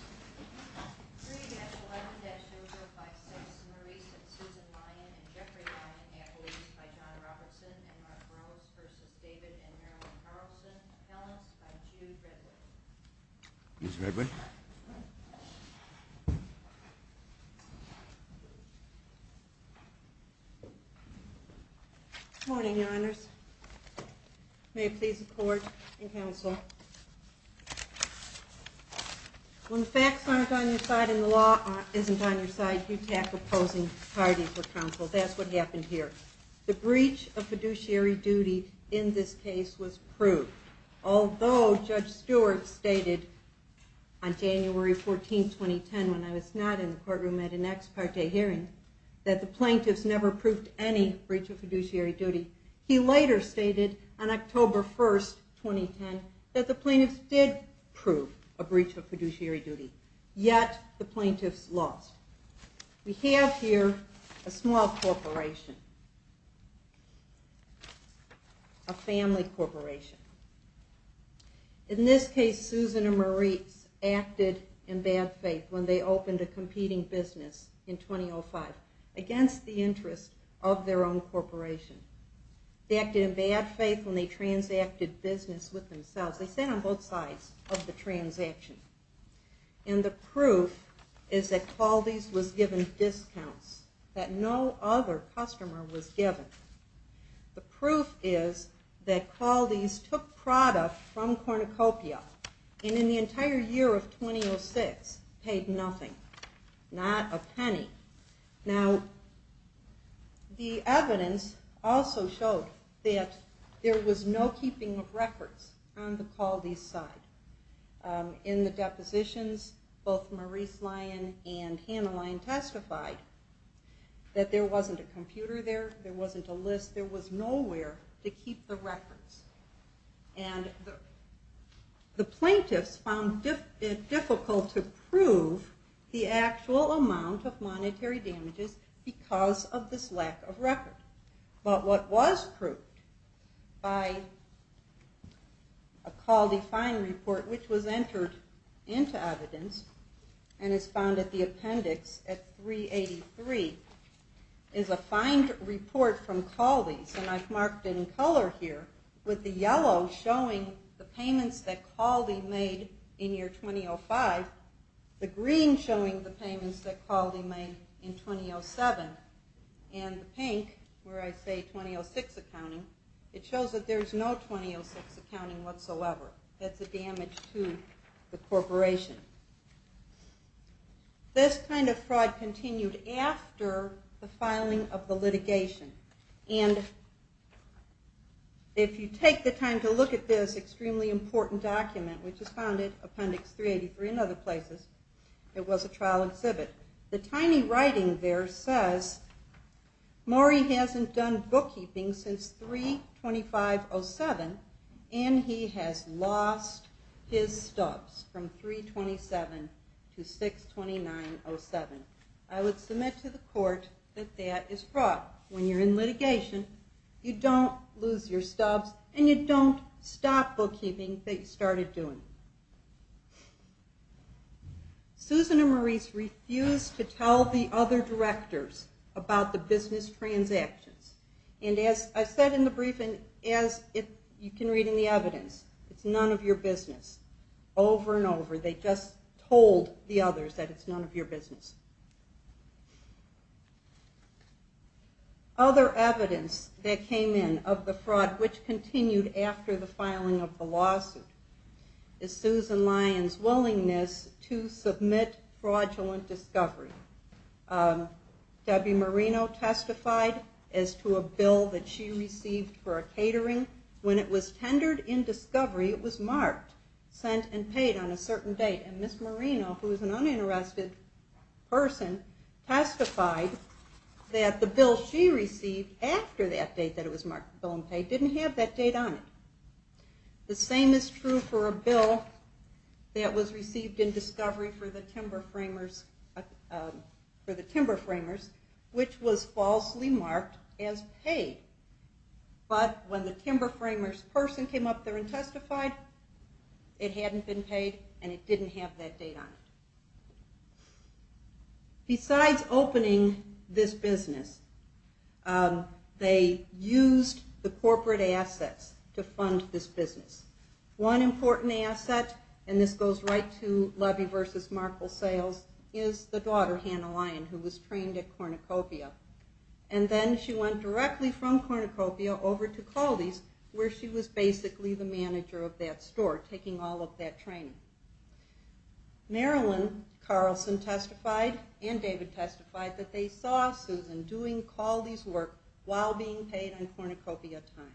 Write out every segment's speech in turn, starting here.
3-11-056 Maurice and Susan Lyon and Jeffrey Lyon Appellees by John Robertson and Mark Burroughs v. David and Marilyn Carlson Appellants by Jude Redwood Ms. Redwood Good morning, Your Honors May it please the Court and Council When the facts aren't on your side and the law isn't on your side, you tackle opposing parties for counsel. That's what happened here. The breach of fiduciary duty in this case was proved, although Judge Stewart stated on January 14, 2010, when I was not in the courtroom at an ex parte hearing, that the plaintiffs never proved any breach of fiduciary duty. He later stated on October 1, 2010, that the plaintiffs did prove a breach of fiduciary duty, yet the plaintiffs lost. We have here a small corporation, a family corporation. In this case, Susan and Maurice acted in bad faith when they opened a competing business in 2005 against the interest of their own corporation. They acted in bad faith when they transacted business with themselves. They sat on both sides of the transaction. And the proof is that Qualdes was given discounts that no other customer was given. The proof is that Qualdes took product from Cornucopia and in the entire year of 2006 paid nothing, not a penny. Now, the evidence also showed that there was no keeping of records on the Qualdes side. In the depositions, both Maurice Lyon and Hannah Lyon testified that there wasn't a computer there, there wasn't a list, there was nowhere to keep the records. And the plaintiffs found it difficult to prove the actual amount of monetary damages because of this lack of record. But what was proved by a Qualdes fine report, which was entered into evidence and is found at the appendix at 383, is a fine report from Qualdes, and I've marked it in color here, with the yellow showing the payments that Qualdes made in year 2005, the green showing the payments that Qualdes made in 2007, and the pink, where I say 2006 accounting, it shows that there's no 2006 accounting whatsoever. That's a damage to the corporation. This kind of fraud continued after the filing of the litigation. And if you take the time to look at this extremely important document, which is found at appendix 383 and other places, it was a trial exhibit. The tiny writing there says, Maury hasn't done bookkeeping since 3-25-07 and he has lost his stubs from 3-27 to 6-29-07. I would submit to the court that that is fraud. When you're in litigation, you don't lose your stubs and you don't stop bookkeeping that you started doing. Susan and Maurice refused to tell the other directors about the business transactions. And as I said in the briefing, as you can read in the evidence, it's none of your business. Over and over, they just told the others that it's none of your business. Other evidence that came in of the fraud, which continued after the filing of the lawsuit, is Susan Lyon's willingness to submit fraudulent discovery. Debbie Marino testified as to a bill that she received for a catering. When it was tendered in discovery, it was marked, sent and paid on a certain date. And Ms. Marino, who is an uninterested person, testified that the bill she received after that date that it was marked, the bill on pay, didn't have that date on it. The same is true for a bill that was received in discovery for the Timber Framers, which was falsely marked as paid. But when the Timber Framers person came up there and testified, it hadn't been paid and it didn't have that date on it. Besides opening this business, they used the corporate assets to fund this business. One important asset, and this goes right to Levy v. Markle Sales, is the daughter, Hannah Lyon, who was trained at Cornucopia. And then she went directly from Cornucopia over to Coldy's, where she was basically the manager of that store, taking all of that training. Marilyn Carlson testified, and David testified, that they saw Susan doing Coldy's work while being paid on Cornucopia time.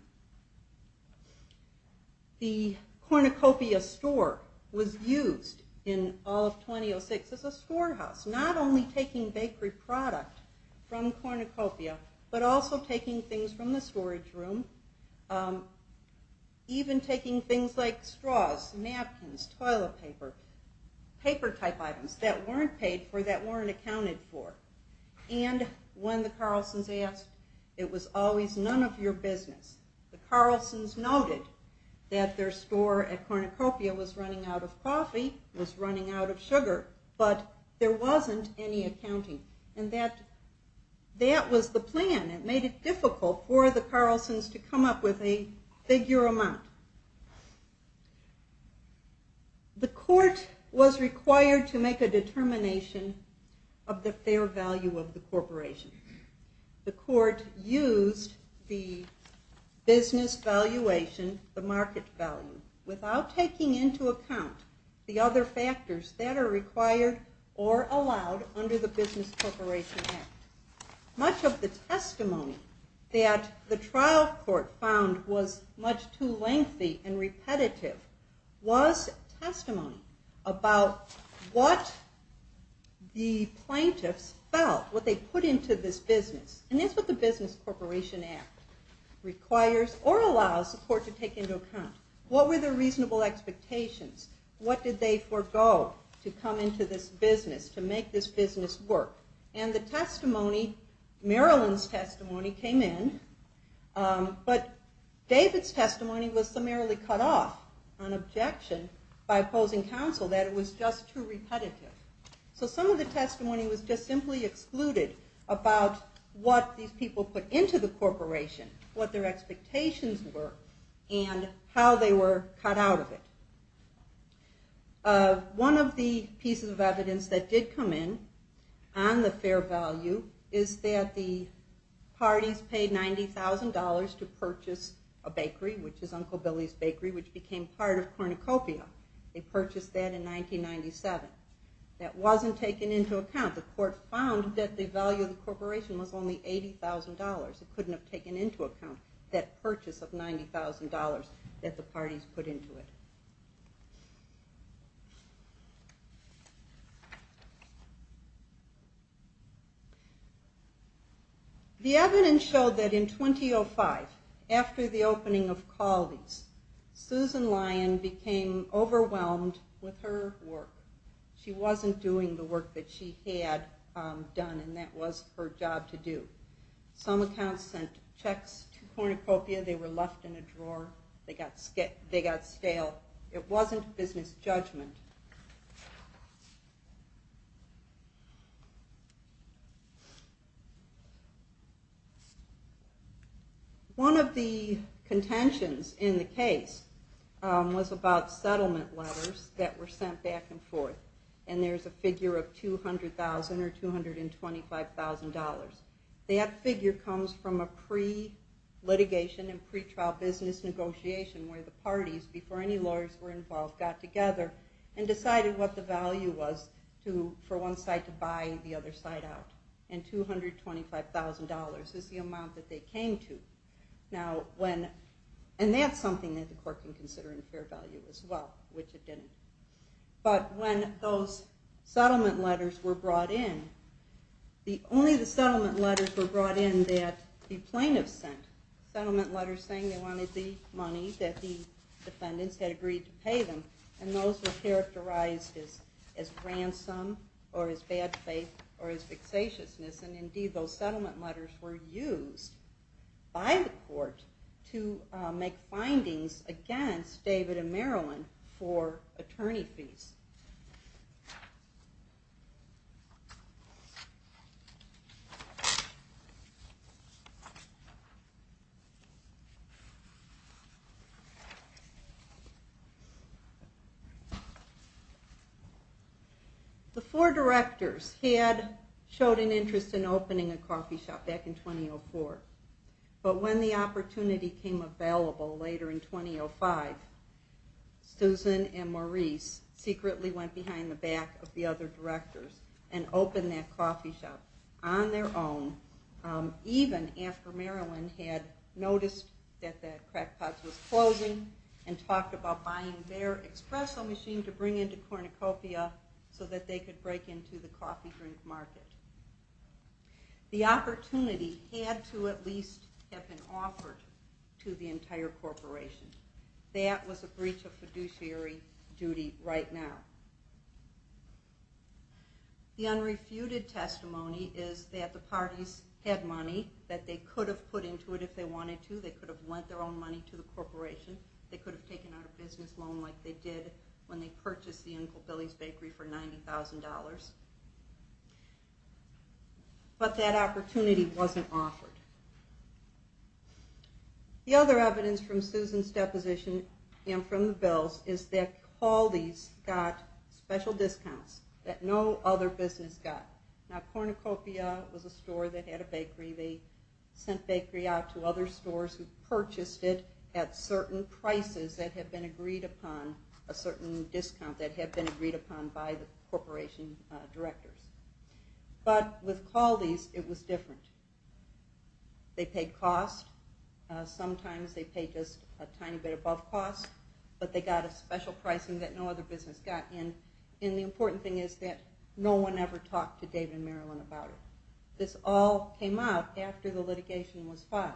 The Cornucopia store was used in all of 2006 as a storehouse, not only taking bakery product from Cornucopia, but also taking things from the storage room, even taking things like straws, napkins, toilet paper, paper type items that weren't paid for, that weren't accounted for. And when the Carlsons asked, it was always none of your business. The Carlsons noted that their store at Cornucopia was running out of coffee, was running out of sugar, but there wasn't any accounting. And that was the plan. It made it difficult for the Carlsons to come up with a figure amount. The court was required to make a determination of the fair value of the corporation. The court used the business valuation, the market value, without taking into account the other factors that are required or allowed under the Business Corporation Act. Much of the testimony that the trial court found was much too lengthy and repetitive was testimony about what the plaintiffs felt, what they put into this business. And that's what the Business Corporation Act requires or allows the court to take into account. What were the reasonable expectations? What did they forego to come into this business, to make this business work? And the testimony, Marilyn's testimony came in, but David's testimony was summarily cut off on objection by opposing counsel that it was just too repetitive. So some of the testimony was just simply excluded about what these people put into the corporation, what their expectations were, and how they were cut out of it. One of the pieces of evidence that did come in on the fair value is that the parties paid $90,000 to purchase a bakery, which is Uncle Billy's Bakery, which became part of Cornucopia. They purchased that in 1997. That wasn't taken into account. The court found that the value of the corporation was only $80,000. It couldn't have taken into account that purchase of $90,000 that the parties put into it. The evidence showed that in 2005, after the opening of Caldi's, Susan Lyon became overwhelmed with her work. She wasn't doing the work that she had done, and that was her job to do. Some accounts sent checks to Cornucopia, they were left in a drawer, they got stale. It wasn't business judgment. One of the contentions in the case was about settlement letters that were sent back and forth. There's a figure of $200,000 or $225,000. That figure comes from a pre-litigation and pre-trial business negotiation where the parties, before any lawyers were involved, got together and decided what the value was for one side to buy the other side out. And $225,000 is the amount that they came to. And that's something that the court can consider in fair value as well, which it didn't. But when those settlement letters were brought in, only the settlement letters were brought in that the plaintiffs sent. Settlement letters saying they wanted the money that the defendants had agreed to pay them. And those were characterized as ransom, or as bad faith, or as vexatiousness. And indeed those settlement letters were used by the court to make findings against David and Marilyn for attorney fees. The four directors had showed an interest in opening a coffee shop back in 2004. But when the opportunity came available later in 2005, Susan and Maurice secretly went behind the back of the other directors and opened that coffee shop on their own, even after Marilyn had noticed that the crackpot was closing and talked about buying their espresso machine to bring into Cornucopia so that they could break into the coffee drink market. The opportunity had to at least have been offered to the entire corporation. That was a breach of fiduciary duty right now. The unrefuted testimony is that the parties had money that they could have put into it if they wanted to. They could have lent their own money to the corporation. They could have taken out a business loan like they did when they purchased the Uncle Billy's Bakery for $90,000. But that opportunity wasn't offered. The other evidence from Susan's deposition and from the bills is that Caldi's got special discounts that no other business got. Now Cornucopia was a store that had a bakery. They sent bakery out to other stores who purchased it at certain prices that had been agreed upon, a certain discount that had been agreed upon by the corporation directors. But with Caldi's, it was different. They paid cost. Sometimes they paid just a tiny bit above cost, but they got a special pricing that no other business got. And the important thing is that no one ever talked to David and Marilyn about it. This all came out after the litigation was filed.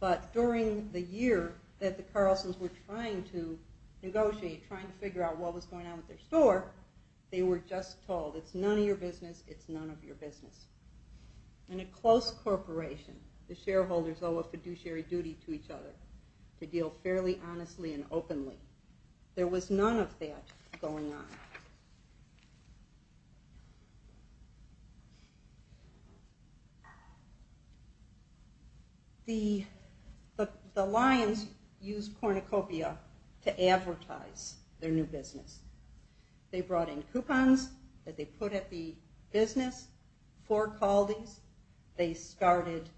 But during the year that the Carlsons were trying to negotiate, trying to figure out what was going on with their store, they were just told, it's none of your business, it's none of your business. In a close corporation, the shareholders owe a fiduciary duty to each other to deal fairly honestly and openly. There was none of that going on. The Lions used Cornucopia to advertise their new business. They brought in coupons that they put at the business for Caldi's. They started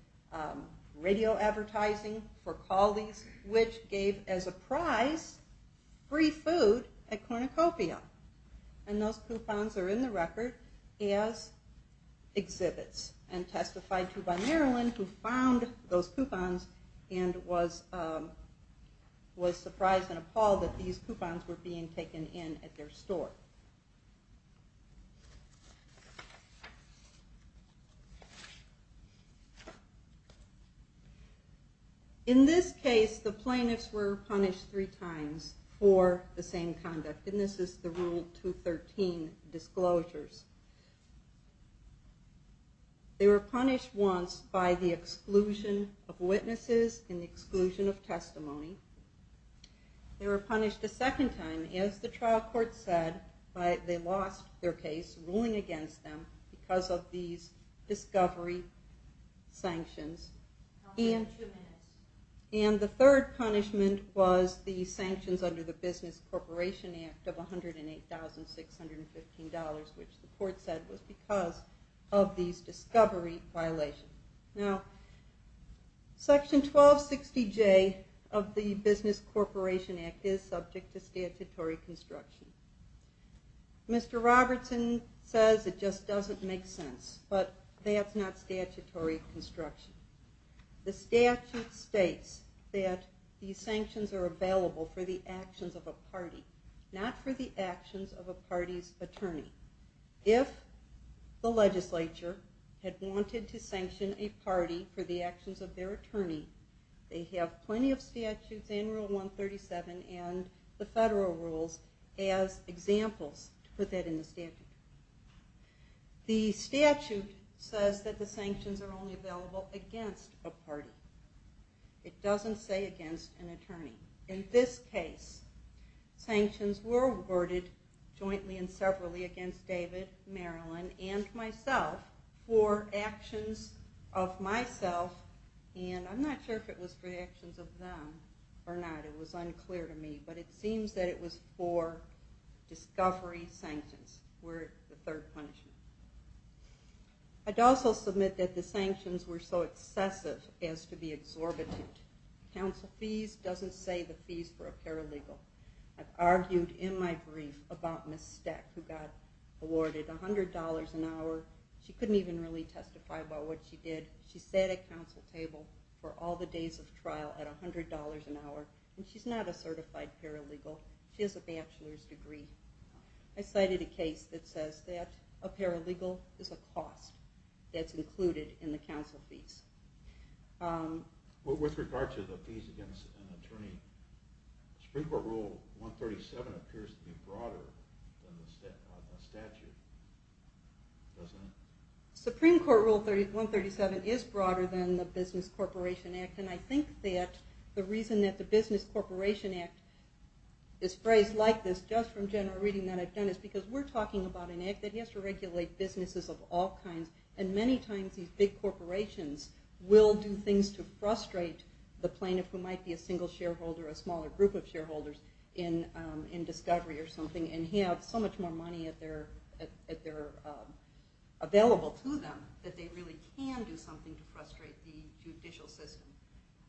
radio advertising for Caldi's, which gave, as a prize, free food at Cornucopia. And those coupons are in the record as exhibits. And testified to by Marilyn, who found those coupons and was surprised and appalled that these coupons were being taken in at their store. In this case, the plaintiffs were punished three times for the same conduct. And this is the Rule 213 disclosures. They were punished once by the exclusion of witnesses and the exclusion of testimony. They were punished a second time, as the trial court said, by they lost their case, ruling against them because of these discovery sanctions. And the third punishment was the sanctions under the Business Corporation Act of $108,615, which the court said was because of these discovery violations. Section 1260J of the Business Corporation Act is subject to statutory construction. Mr. Robertson says it just doesn't make sense, but that's not statutory construction. The statute states that these sanctions are available for the actions of a party, not for the actions of a party's attorney. If the legislature had wanted to sanction a party for the actions of their attorney, they have plenty of statutes in Rule 137 and the federal rules as examples to put that in the statute. The statute says that the sanctions are only available against a party. It doesn't say against an attorney. In this case, sanctions were awarded jointly and separately against David, Marilyn, and myself for actions of myself, and I'm not sure if it was for actions of them or not. It was unclear to me, but it seems that it was for discovery sanctions were the third punishment. I'd also submit that the sanctions were so excessive as to be exorbitant. Council fees doesn't say the fees for a paralegal. I've argued in my brief about Ms. Steck, who got awarded $100 an hour. She couldn't even really testify about what she did. She sat at council table for all the days of trial at $100 an hour, and she's not a certified paralegal. She has a bachelor's degree. I cited a case that says that a paralegal is a cost that's included in the council fees. With regard to the fees against an attorney, Supreme Court Rule 137 appears to be broader than the statute, doesn't it? Supreme Court Rule 137 is broader than the Business Corporation Act, and I think that the reason that the Business Corporation Act is phrased like this just from general reading that I've done is because we're talking about an act that has to regulate businesses of all kinds, and many times these big corporations will do things to frustrate the plaintiff, who might be a single shareholder or a smaller group of shareholders in discovery or something, and have so much more money available to them that they really can do something to frustrate the judicial system.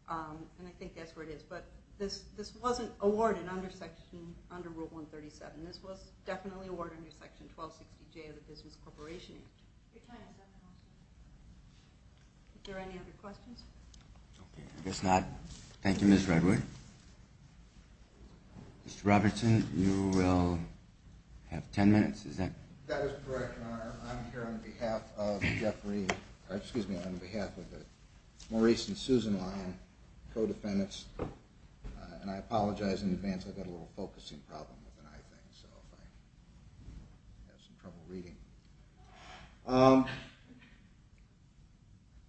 And I think that's where it is. But this wasn't awarded under Rule 137. This was definitely awarded under Section 1260J of the Business Corporation Act. It kind of does. Are there any other questions? I guess not. Thank you, Ms. Redwood. Mr. Robertson, you will have 10 minutes. That is correct, Your Honor. I'm here on behalf of Jeffrey – excuse me, on behalf of Maurice and Susan Lyon, co-defendants, and I apologize in advance. I've got a little focusing problem with an eye thing, so I have some trouble reading.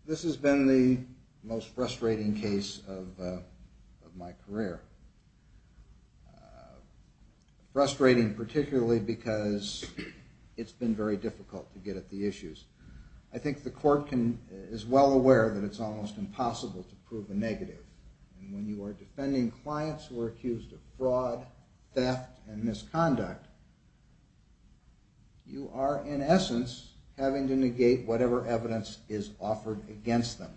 This has been the most frustrating case of my career. Frustrating particularly because it's been very difficult to get at the issues. I think the court is well aware that it's almost impossible to prove a negative. And when you are defending clients who are accused of fraud, theft, and misconduct, you are in essence having to negate whatever evidence is offered against them.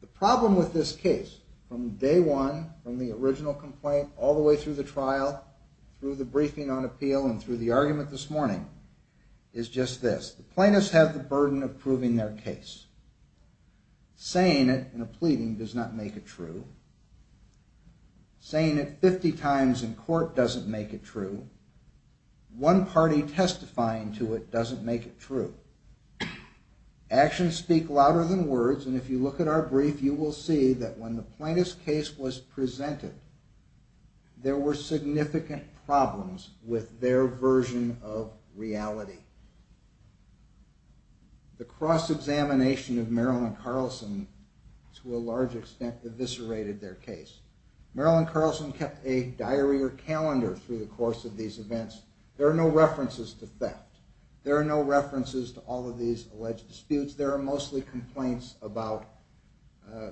The problem with this case, from day one, from the original complaint all the way through the trial, through the briefing on appeal, and through the argument this morning, is just this. The plaintiffs have the burden of proving their case. Saying it in a pleading does not make it true. Saying it 50 times in court doesn't make it true. One party testifying to it doesn't make it true. Actions speak louder than words, and if you look at our brief, you will see that when the plaintiff's case was presented, there were significant problems with their version of reality. The cross-examination of Marilyn Carlson, to a large extent, eviscerated their case. Marilyn Carlson kept a diary or calendar through the course of these events. There are no references to theft. There are no references to all of these alleged disputes. There are mostly complaints about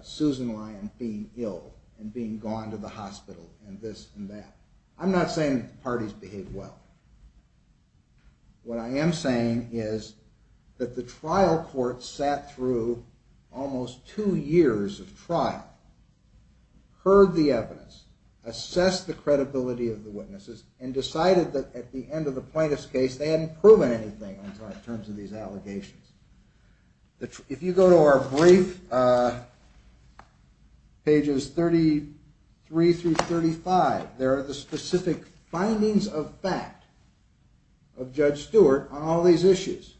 Susan Lyon being ill and being gone to the hospital, and this and that. I'm not saying the parties behaved well. What I am saying is that the trial court sat through almost two years of trial, heard the evidence, assessed the credibility of the witnesses, and decided that at the end of the plaintiff's case, they hadn't proven anything in terms of these allegations. If you go to our brief, pages 33 through 35, there are the specific findings of fact of Judge Stewart on all these issues.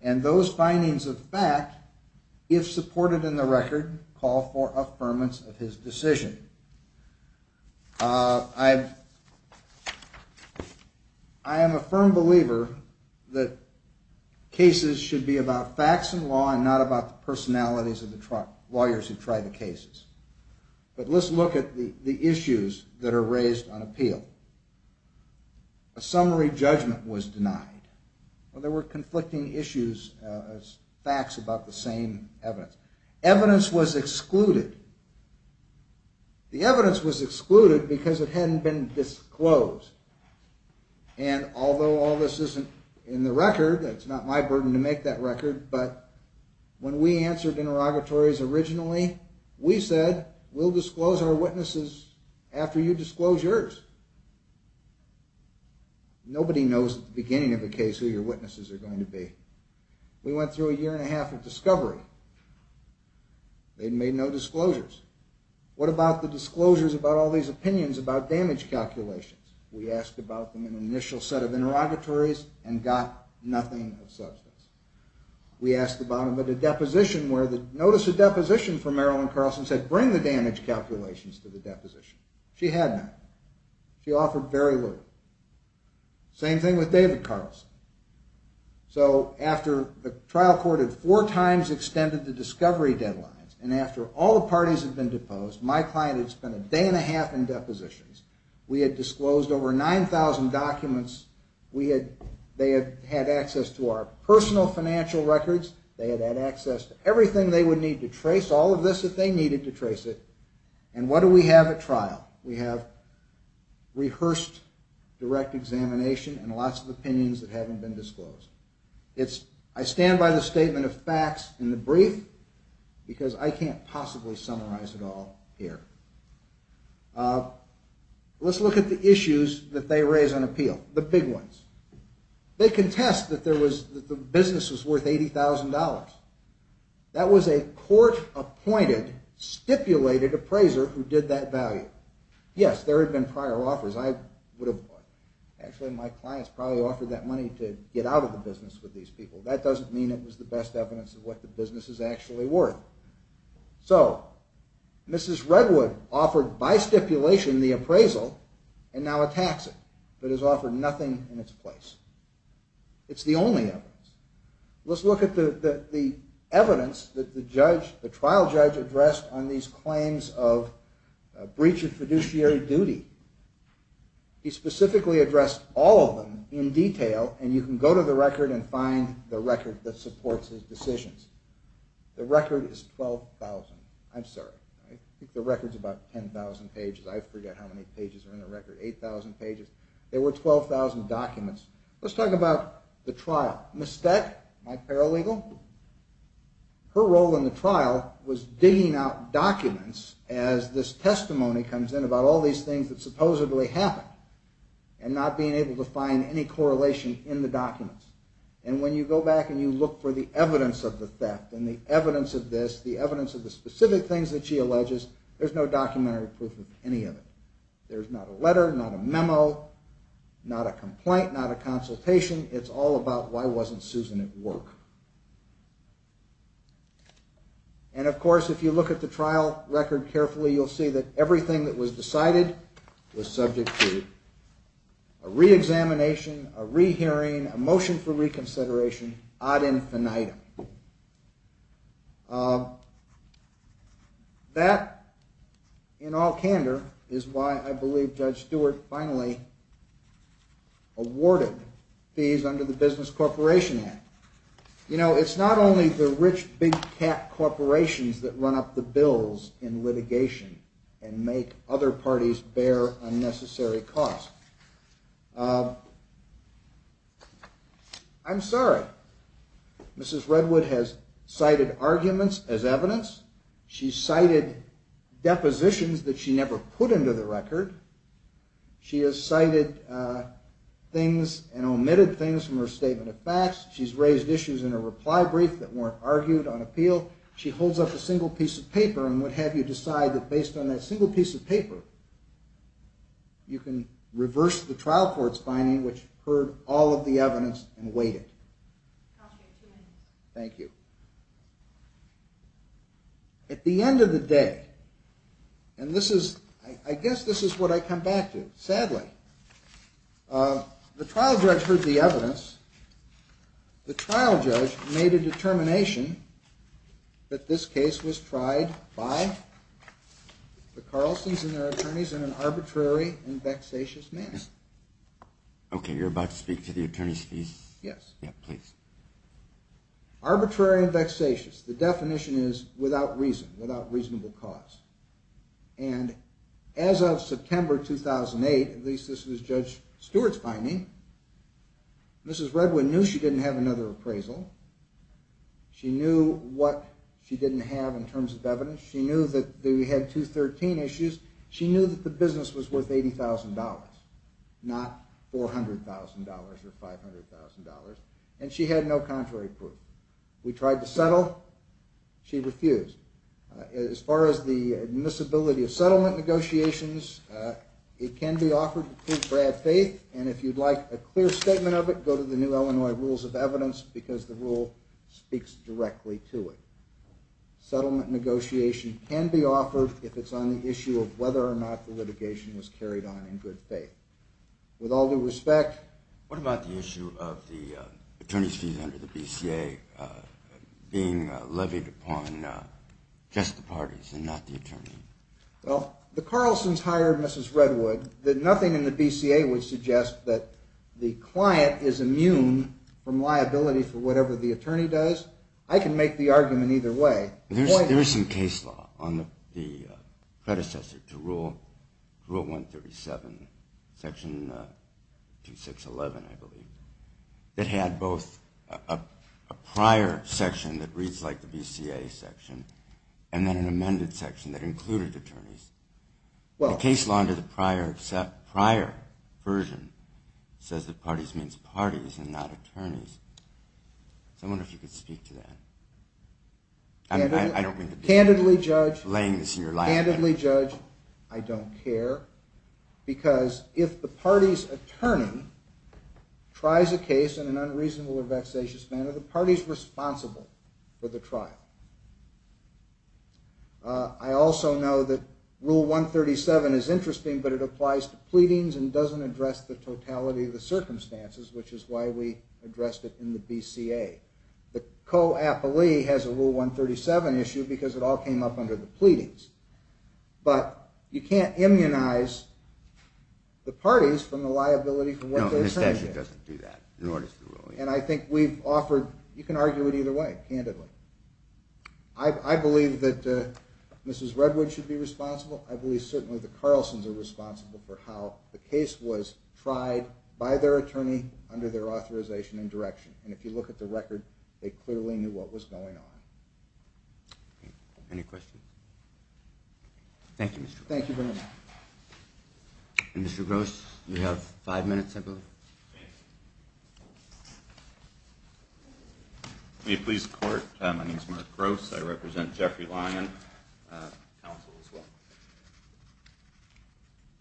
And those findings of fact, if supported in the record, call for affirmance of his decision. I am a firm believer that cases should be about facts in law and not about the personalities of the lawyers who try the cases. But let's look at the issues that are raised on appeal. A summary judgment was denied. There were conflicting issues as facts about the same evidence. Evidence was excluded. The evidence was excluded because it hadn't been disclosed. And although all this isn't in the record, it's not my burden to make that record, but when we answered interrogatories originally, we said, we'll disclose our witnesses after you disclose yours. Nobody knows at the beginning of a case who your witnesses are going to be. We went through a year and a half of discovery. They made no disclosures. What about the disclosures about all these opinions about damage calculations? We asked about them in an initial set of interrogatories and got nothing of substance. We asked about them at a deposition where the notice of deposition for Marilyn Carlson said, bring the damage calculations to the deposition. She had none. She offered very little. Same thing with David Carlson. So after the trial court had four times extended the discovery deadlines, and after all the parties had been deposed, my client had spent a day and a half in depositions, we had disclosed over 9,000 documents. They had access to our personal financial records. They had access to everything they would need to trace all of this if they needed to trace it. And what do we have at trial? We have rehearsed direct examination and lots of opinions that haven't been disclosed. I stand by the statement of facts in the brief because I can't possibly summarize it all here. Let's look at the issues that they raise on appeal, the big ones. They contest that the business was worth $80,000. That was a court-appointed, stipulated appraiser who did that value. Yes, there had been prior offers. Actually, my clients probably offered that money to get out of the business with these people. That doesn't mean it was the best evidence of what the business is actually worth. So Mrs. Redwood offered by stipulation the appraisal and now attacks it, but has offered nothing in its place. It's the only evidence. Let's look at the evidence that the trial judge addressed on these claims of breach of fiduciary duty. He specifically addressed all of them in detail, and you can go to the record and find the record that supports his decisions. The record is 12,000. I'm sorry. I think the record's about 10,000 pages. I forget how many pages are in the record. 8,000 pages. There were 12,000 documents. Let's talk about the trial. Ms. Steck, my paralegal, her role in the trial was digging out documents as this testimony comes in about all these things that supposedly happened and not being able to find any correlation in the documents. And when you go back and you look for the evidence of the theft and the evidence of this, the evidence of the specific things that she alleges, there's no documentary proof of any of it. There's not a letter, not a memo, not a complaint, not a consultation. It's all about why wasn't Susan at work. And, of course, if you look at the trial record carefully, you'll see that everything that was decided was subject to a reexamination, a rehearing, a motion for reconsideration, ad infinitum. That, in all candor, is why I believe Judge Stewart finally awarded fees under the Business Corporation Act. You know, it's not only the rich big-cat corporations that run up the bills in litigation and make other parties bear unnecessary costs. I'm sorry. Mrs. Redwood has cited arguments as evidence. She's cited depositions that she never put into the record. She has cited things and omitted things from her statement of facts. She's raised issues in her reply brief that weren't argued on appeal. She holds up a single piece of paper and would have you decide that, based on that single piece of paper, you can reverse the trial court's finding, which heard all of the evidence and weighed it. Thank you. At the end of the day, and I guess this is what I come back to, sadly, the trial judge heard the evidence. The trial judge made a determination that this case was tried by the Carlsons and their attorneys in an arbitrary and vexatious manner. Okay, you're about to speak to the attorney's fees? Yes. Yeah, please. Arbitrary and vexatious. The definition is without reason, without reasonable cause. And as of September 2008, at least this was Judge Stewart's finding, Mrs. Redwin knew she didn't have another appraisal. She knew what she didn't have in terms of evidence. She knew that we had 213 issues. She knew that the business was worth $80,000, not $400,000 or $500,000, and she had no contrary proof. We tried to settle. She refused. As far as the admissibility of settlement negotiations, it can be offered to prove Brad's faith, and if you'd like a clear statement of it, go to the New Illinois Rules of Evidence because the rule speaks directly to it. Settlement negotiation can be offered if it's on the issue of whether or not the litigation was carried on in good faith. With all due respect. What about the issue of the attorney's fees under the BCA being levied upon just the parties and not the attorney? Well, the Carlsons hired Mrs. Redwood. Nothing in the BCA would suggest that the client is immune from liability for whatever the attorney does. I can make the argument either way. There is some case law on the predecessor to Rule 137, Section 2611, I believe, that had both a prior section that reads like the BCA section and then an amended section that included attorneys. The case law under the prior version says that parties means parties and not attorneys. So I wonder if you could speak to that. I don't mean to be laying this in your lap. Candidly, Judge, I don't care because if the party's attorney tries a case in an unreasonable or vexatious manner, are the parties responsible for the trial? I also know that Rule 137 is interesting, but it applies to pleadings and doesn't address the totality of the circumstances, which is why we addressed it in the BCA. The co-appellee has a Rule 137 issue because it all came up under the pleadings. But you can't immunize the parties from the liability for what they're saying. No, the statute doesn't do that, nor does the rule. And I think we've offered you can argue it either way, candidly. I believe that Mrs. Redwood should be responsible. I believe certainly the Carlsons are responsible for how the case was tried by their attorney under their authorization and direction. And if you look at the record, they clearly knew what was going on. Any questions? Thank you, Mr. Gross. Thank you very much. Mr. Gross, you have five minutes, I believe. Thank you. May it please the Court, my name is Mark Gross. I represent Jeffrey Lyon, counsel as well.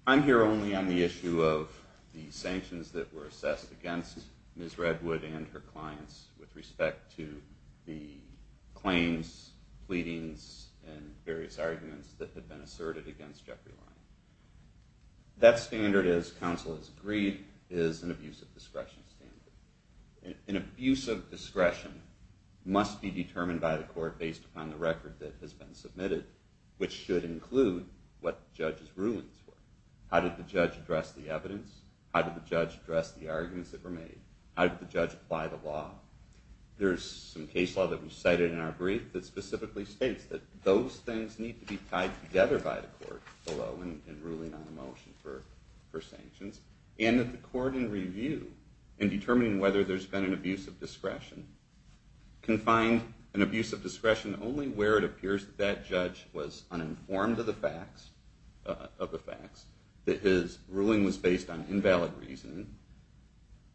I'm here only on the issue of the sanctions that were assessed against Ms. Redwood and her clients with respect to the claims, pleadings, and various arguments that have been asserted against Jeffrey Lyon. That standard, as counsel has agreed, is an abuse of discretion standard. An abuse of discretion must be determined by the court based upon the record that has been submitted, which should include what the judge's rulings were. How did the judge address the evidence? How did the judge address the arguments that were made? How did the judge apply the law? There's some case law that was cited in our brief that specifically states that those things need to be tied together by the court below in ruling on a motion for sanctions, and that the court in review in determining whether there's been an abuse of discretion can find an abuse of discretion only where it appears that judge was uninformed of the facts, that his ruling was based on invalid reason,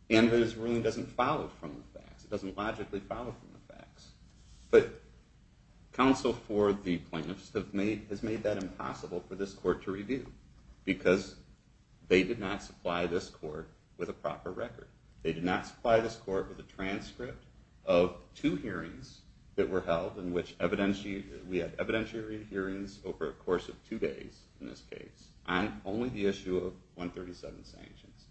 and his ruling doesn't follow from the facts. It doesn't logically follow from the facts. But counsel for the plaintiffs has made that impossible for this court to review because they did not supply this court with a proper record. They did not supply this court with a transcript of two hearings that were held in which we had evidentiary hearings over a course of two days in this case on only the issue of 137 sanctions.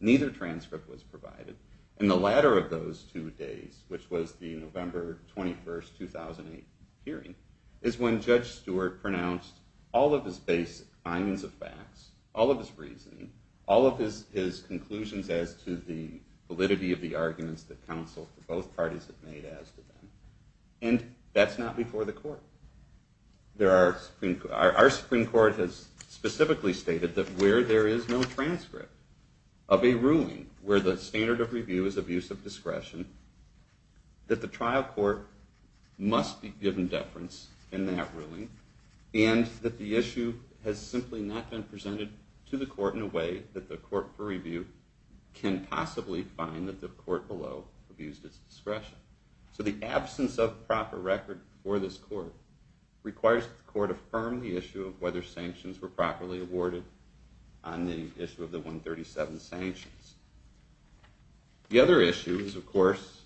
Neither transcript was provided. And the latter of those two days, which was the November 21, 2008 hearing, is when Judge Stewart pronounced all of his basic lines of facts, all of his reasoning, all of his conclusions as to the validity of the arguments that counsel for both parties have made as to them. And that's not before the court. Our Supreme Court has specifically stated that where there is no transcript of a ruling where the standard of review is abuse of discretion, that the trial court must be given deference in that ruling, and that the issue has simply not been presented to the court in a way that the court for review can possibly find that the court below abused its discretion. So the absence of proper record for this court requires the court affirm the issue of whether sanctions were properly awarded on the issue of the 137 sanctions. The other issue is, of course,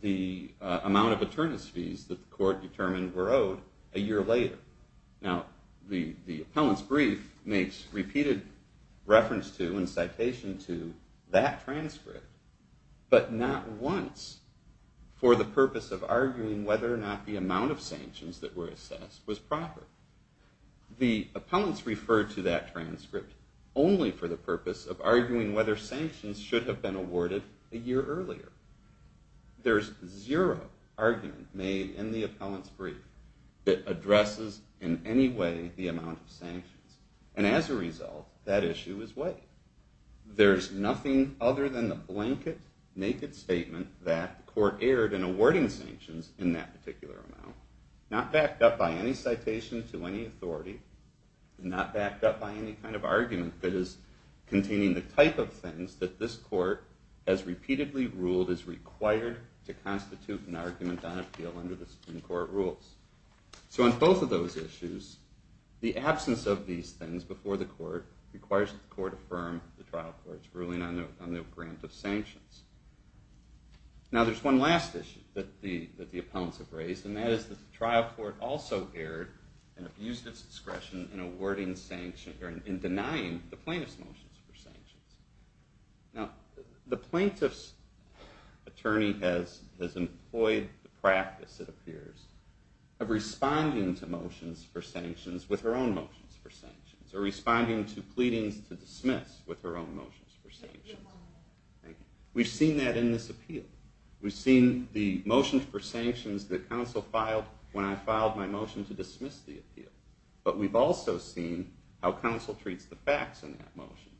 the amount of attorneys fees that the court determined were owed a year later. Now, the appellant's brief makes repeated reference to and citation to that transcript, but not once for the purpose of arguing whether or not the amount of sanctions that were assessed was proper. The appellants referred to that transcript only for the purpose of arguing whether sanctions should have been awarded a year earlier. There's zero argument made in the appellant's brief that addresses in any way the amount of sanctions. And as a result, that issue is weighed. There's nothing other than the blanket, naked statement that the court erred in awarding sanctions in that particular amount. Not backed up by any citation to any authority, not backed up by any kind of argument that is containing the type of things that this court, as repeatedly ruled, is required to constitute an argument on appeal under the Supreme Court rules. So on both of those issues, the absence of these things before the court requires the court to confirm the trial court's ruling on the grant of sanctions. Now, there's one last issue that the appellants have raised, and that is that the trial court also erred and abused its discretion in denying the plaintiff's motions for sanctions. Now, the plaintiff's attorney has employed the practice, it appears, of responding to motions for sanctions with her own motions for sanctions, or responding to pleadings to dismiss with her own motions for sanctions. We've seen that in this appeal. We've seen the motions for sanctions that counsel filed when I filed my motion to dismiss the appeal. But we've also seen how counsel treats the facts in that motion.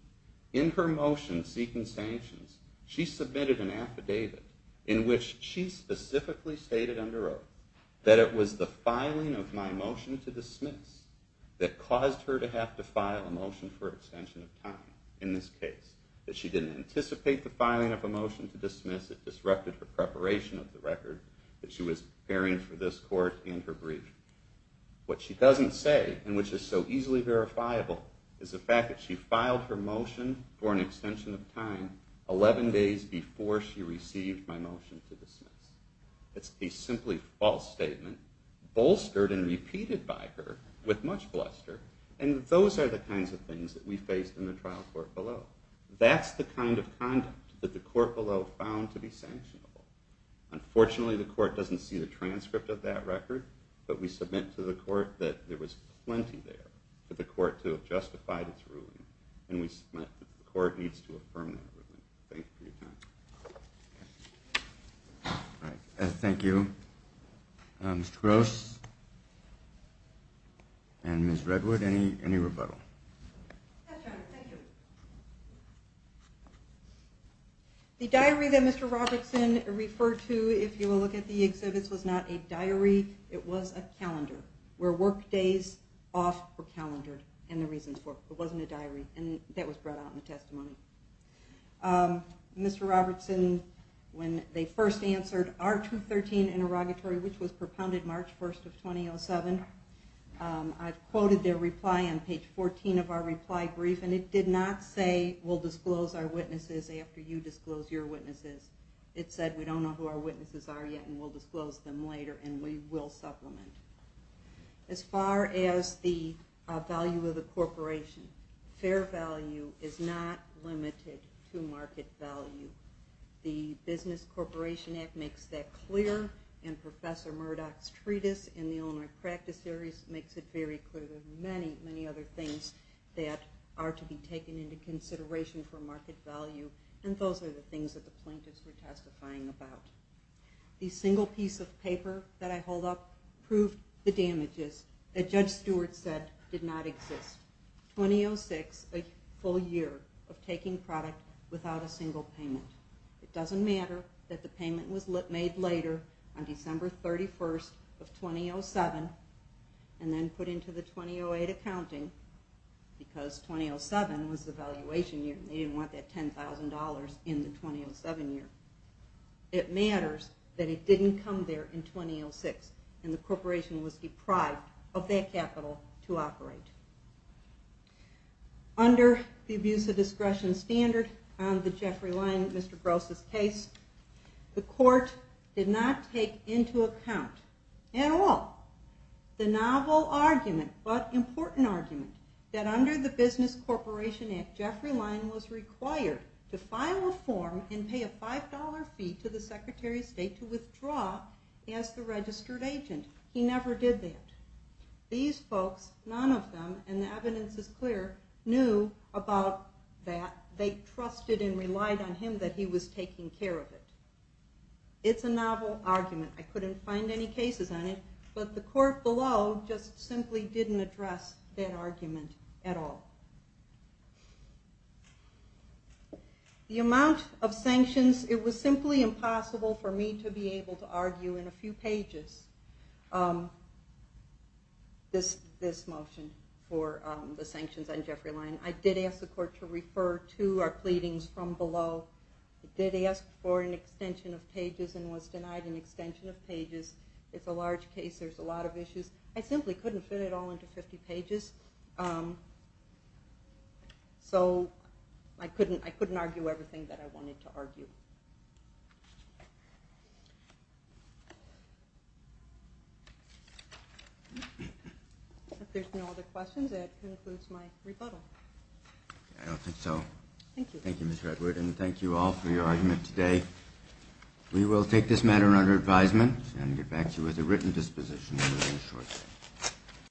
In her motion seeking sanctions, she submitted an affidavit in which she specifically stated under oath that it was the filing of my motion to dismiss that caused her to have to file a motion for extension of time in this case, that she didn't anticipate the filing of a motion to dismiss. It disrupted her preparation of the record that she was preparing for this court and her brief. What she doesn't say, and which is so easily verifiable, is the fact that she filed her motion for an extension of time 11 days before she received my motion to dismiss. It's a simply false statement bolstered and repeated by her with much bluster. And those are the kinds of things that we faced in the trial court below. That's the kind of conduct that the court below found to be sanctionable. Unfortunately, the court doesn't see the transcript of that record, but we submit to the court that there was plenty there for the court to have justified its ruling. And we submit that the court needs to affirm that ruling. Thank you for your time. Thank you. Mr. Gross and Ms. Redwood, any rebuttal? Yes, Your Honor. Thank you. The diary that Mr. Robertson referred to, if you will look at the exhibits, was not a diary. It was a calendar, where work days off were calendared, and the reasons for it. It wasn't a diary. And that was brought out in the testimony. Mr. Robertson, when they first answered our 213 interrogatory, which was propounded March 1st of 2007, I quoted their reply on page 14 of our reply brief, and it did not say we'll disclose our witnesses after you disclose your witnesses. It said we don't know who our witnesses are yet, and we'll disclose them later, and we will supplement. As far as the value of the corporation, fair value is not limited to market value. The Business Corporation Act makes that clear, and Professor Murdoch's treatise in the Illinois Practice Series makes it very clear. There are many, many other things that are to be taken into consideration for market value, and those are the things that the plaintiffs were testifying about. The single piece of paper that I hold up proved the damages that Judge Stewart said did not exist. 2006, a full year of taking product without a single payment. It doesn't matter that the payment was made later on December 31st of 2007, and then put into the 2008 accounting, because 2007 was the valuation year, and they didn't want that $10,000 in the 2007 year. It matters that it didn't come there in 2006, and the corporation was deprived of that capital to operate. Under the abuse of discretion standard on the Jeffrey Line, Mr. Gross' case, the court did not take into account at all the novel argument, but important argument, that under the Business Corporation Act, Jeffrey Line was required to file a form and pay a $5 fee to the Secretary of State to withdraw as the registered agent. He never did that. These folks, none of them, and the evidence is clear, knew about that. They trusted and relied on him that he was taking care of it. It's a novel argument. I couldn't find any cases on it, but the court below just simply didn't address that argument at all. The amount of sanctions, it was simply impossible for me to be able to argue in a few pages this motion for the sanctions on Jeffrey Line. I did ask the court to refer to our pleadings from below. I did ask for an extension of pages and was denied an extension of pages. It's a large case. There's a lot of issues. I simply couldn't fit it all into 50 pages, so I couldn't argue everything that I wanted to argue. If there's no other questions, that concludes my rebuttal. I don't think so. Thank you. Thank you, Ms. Redwood, and thank you all for your argument today. We will take this matter under advisement and get back to you with a written disposition shortly.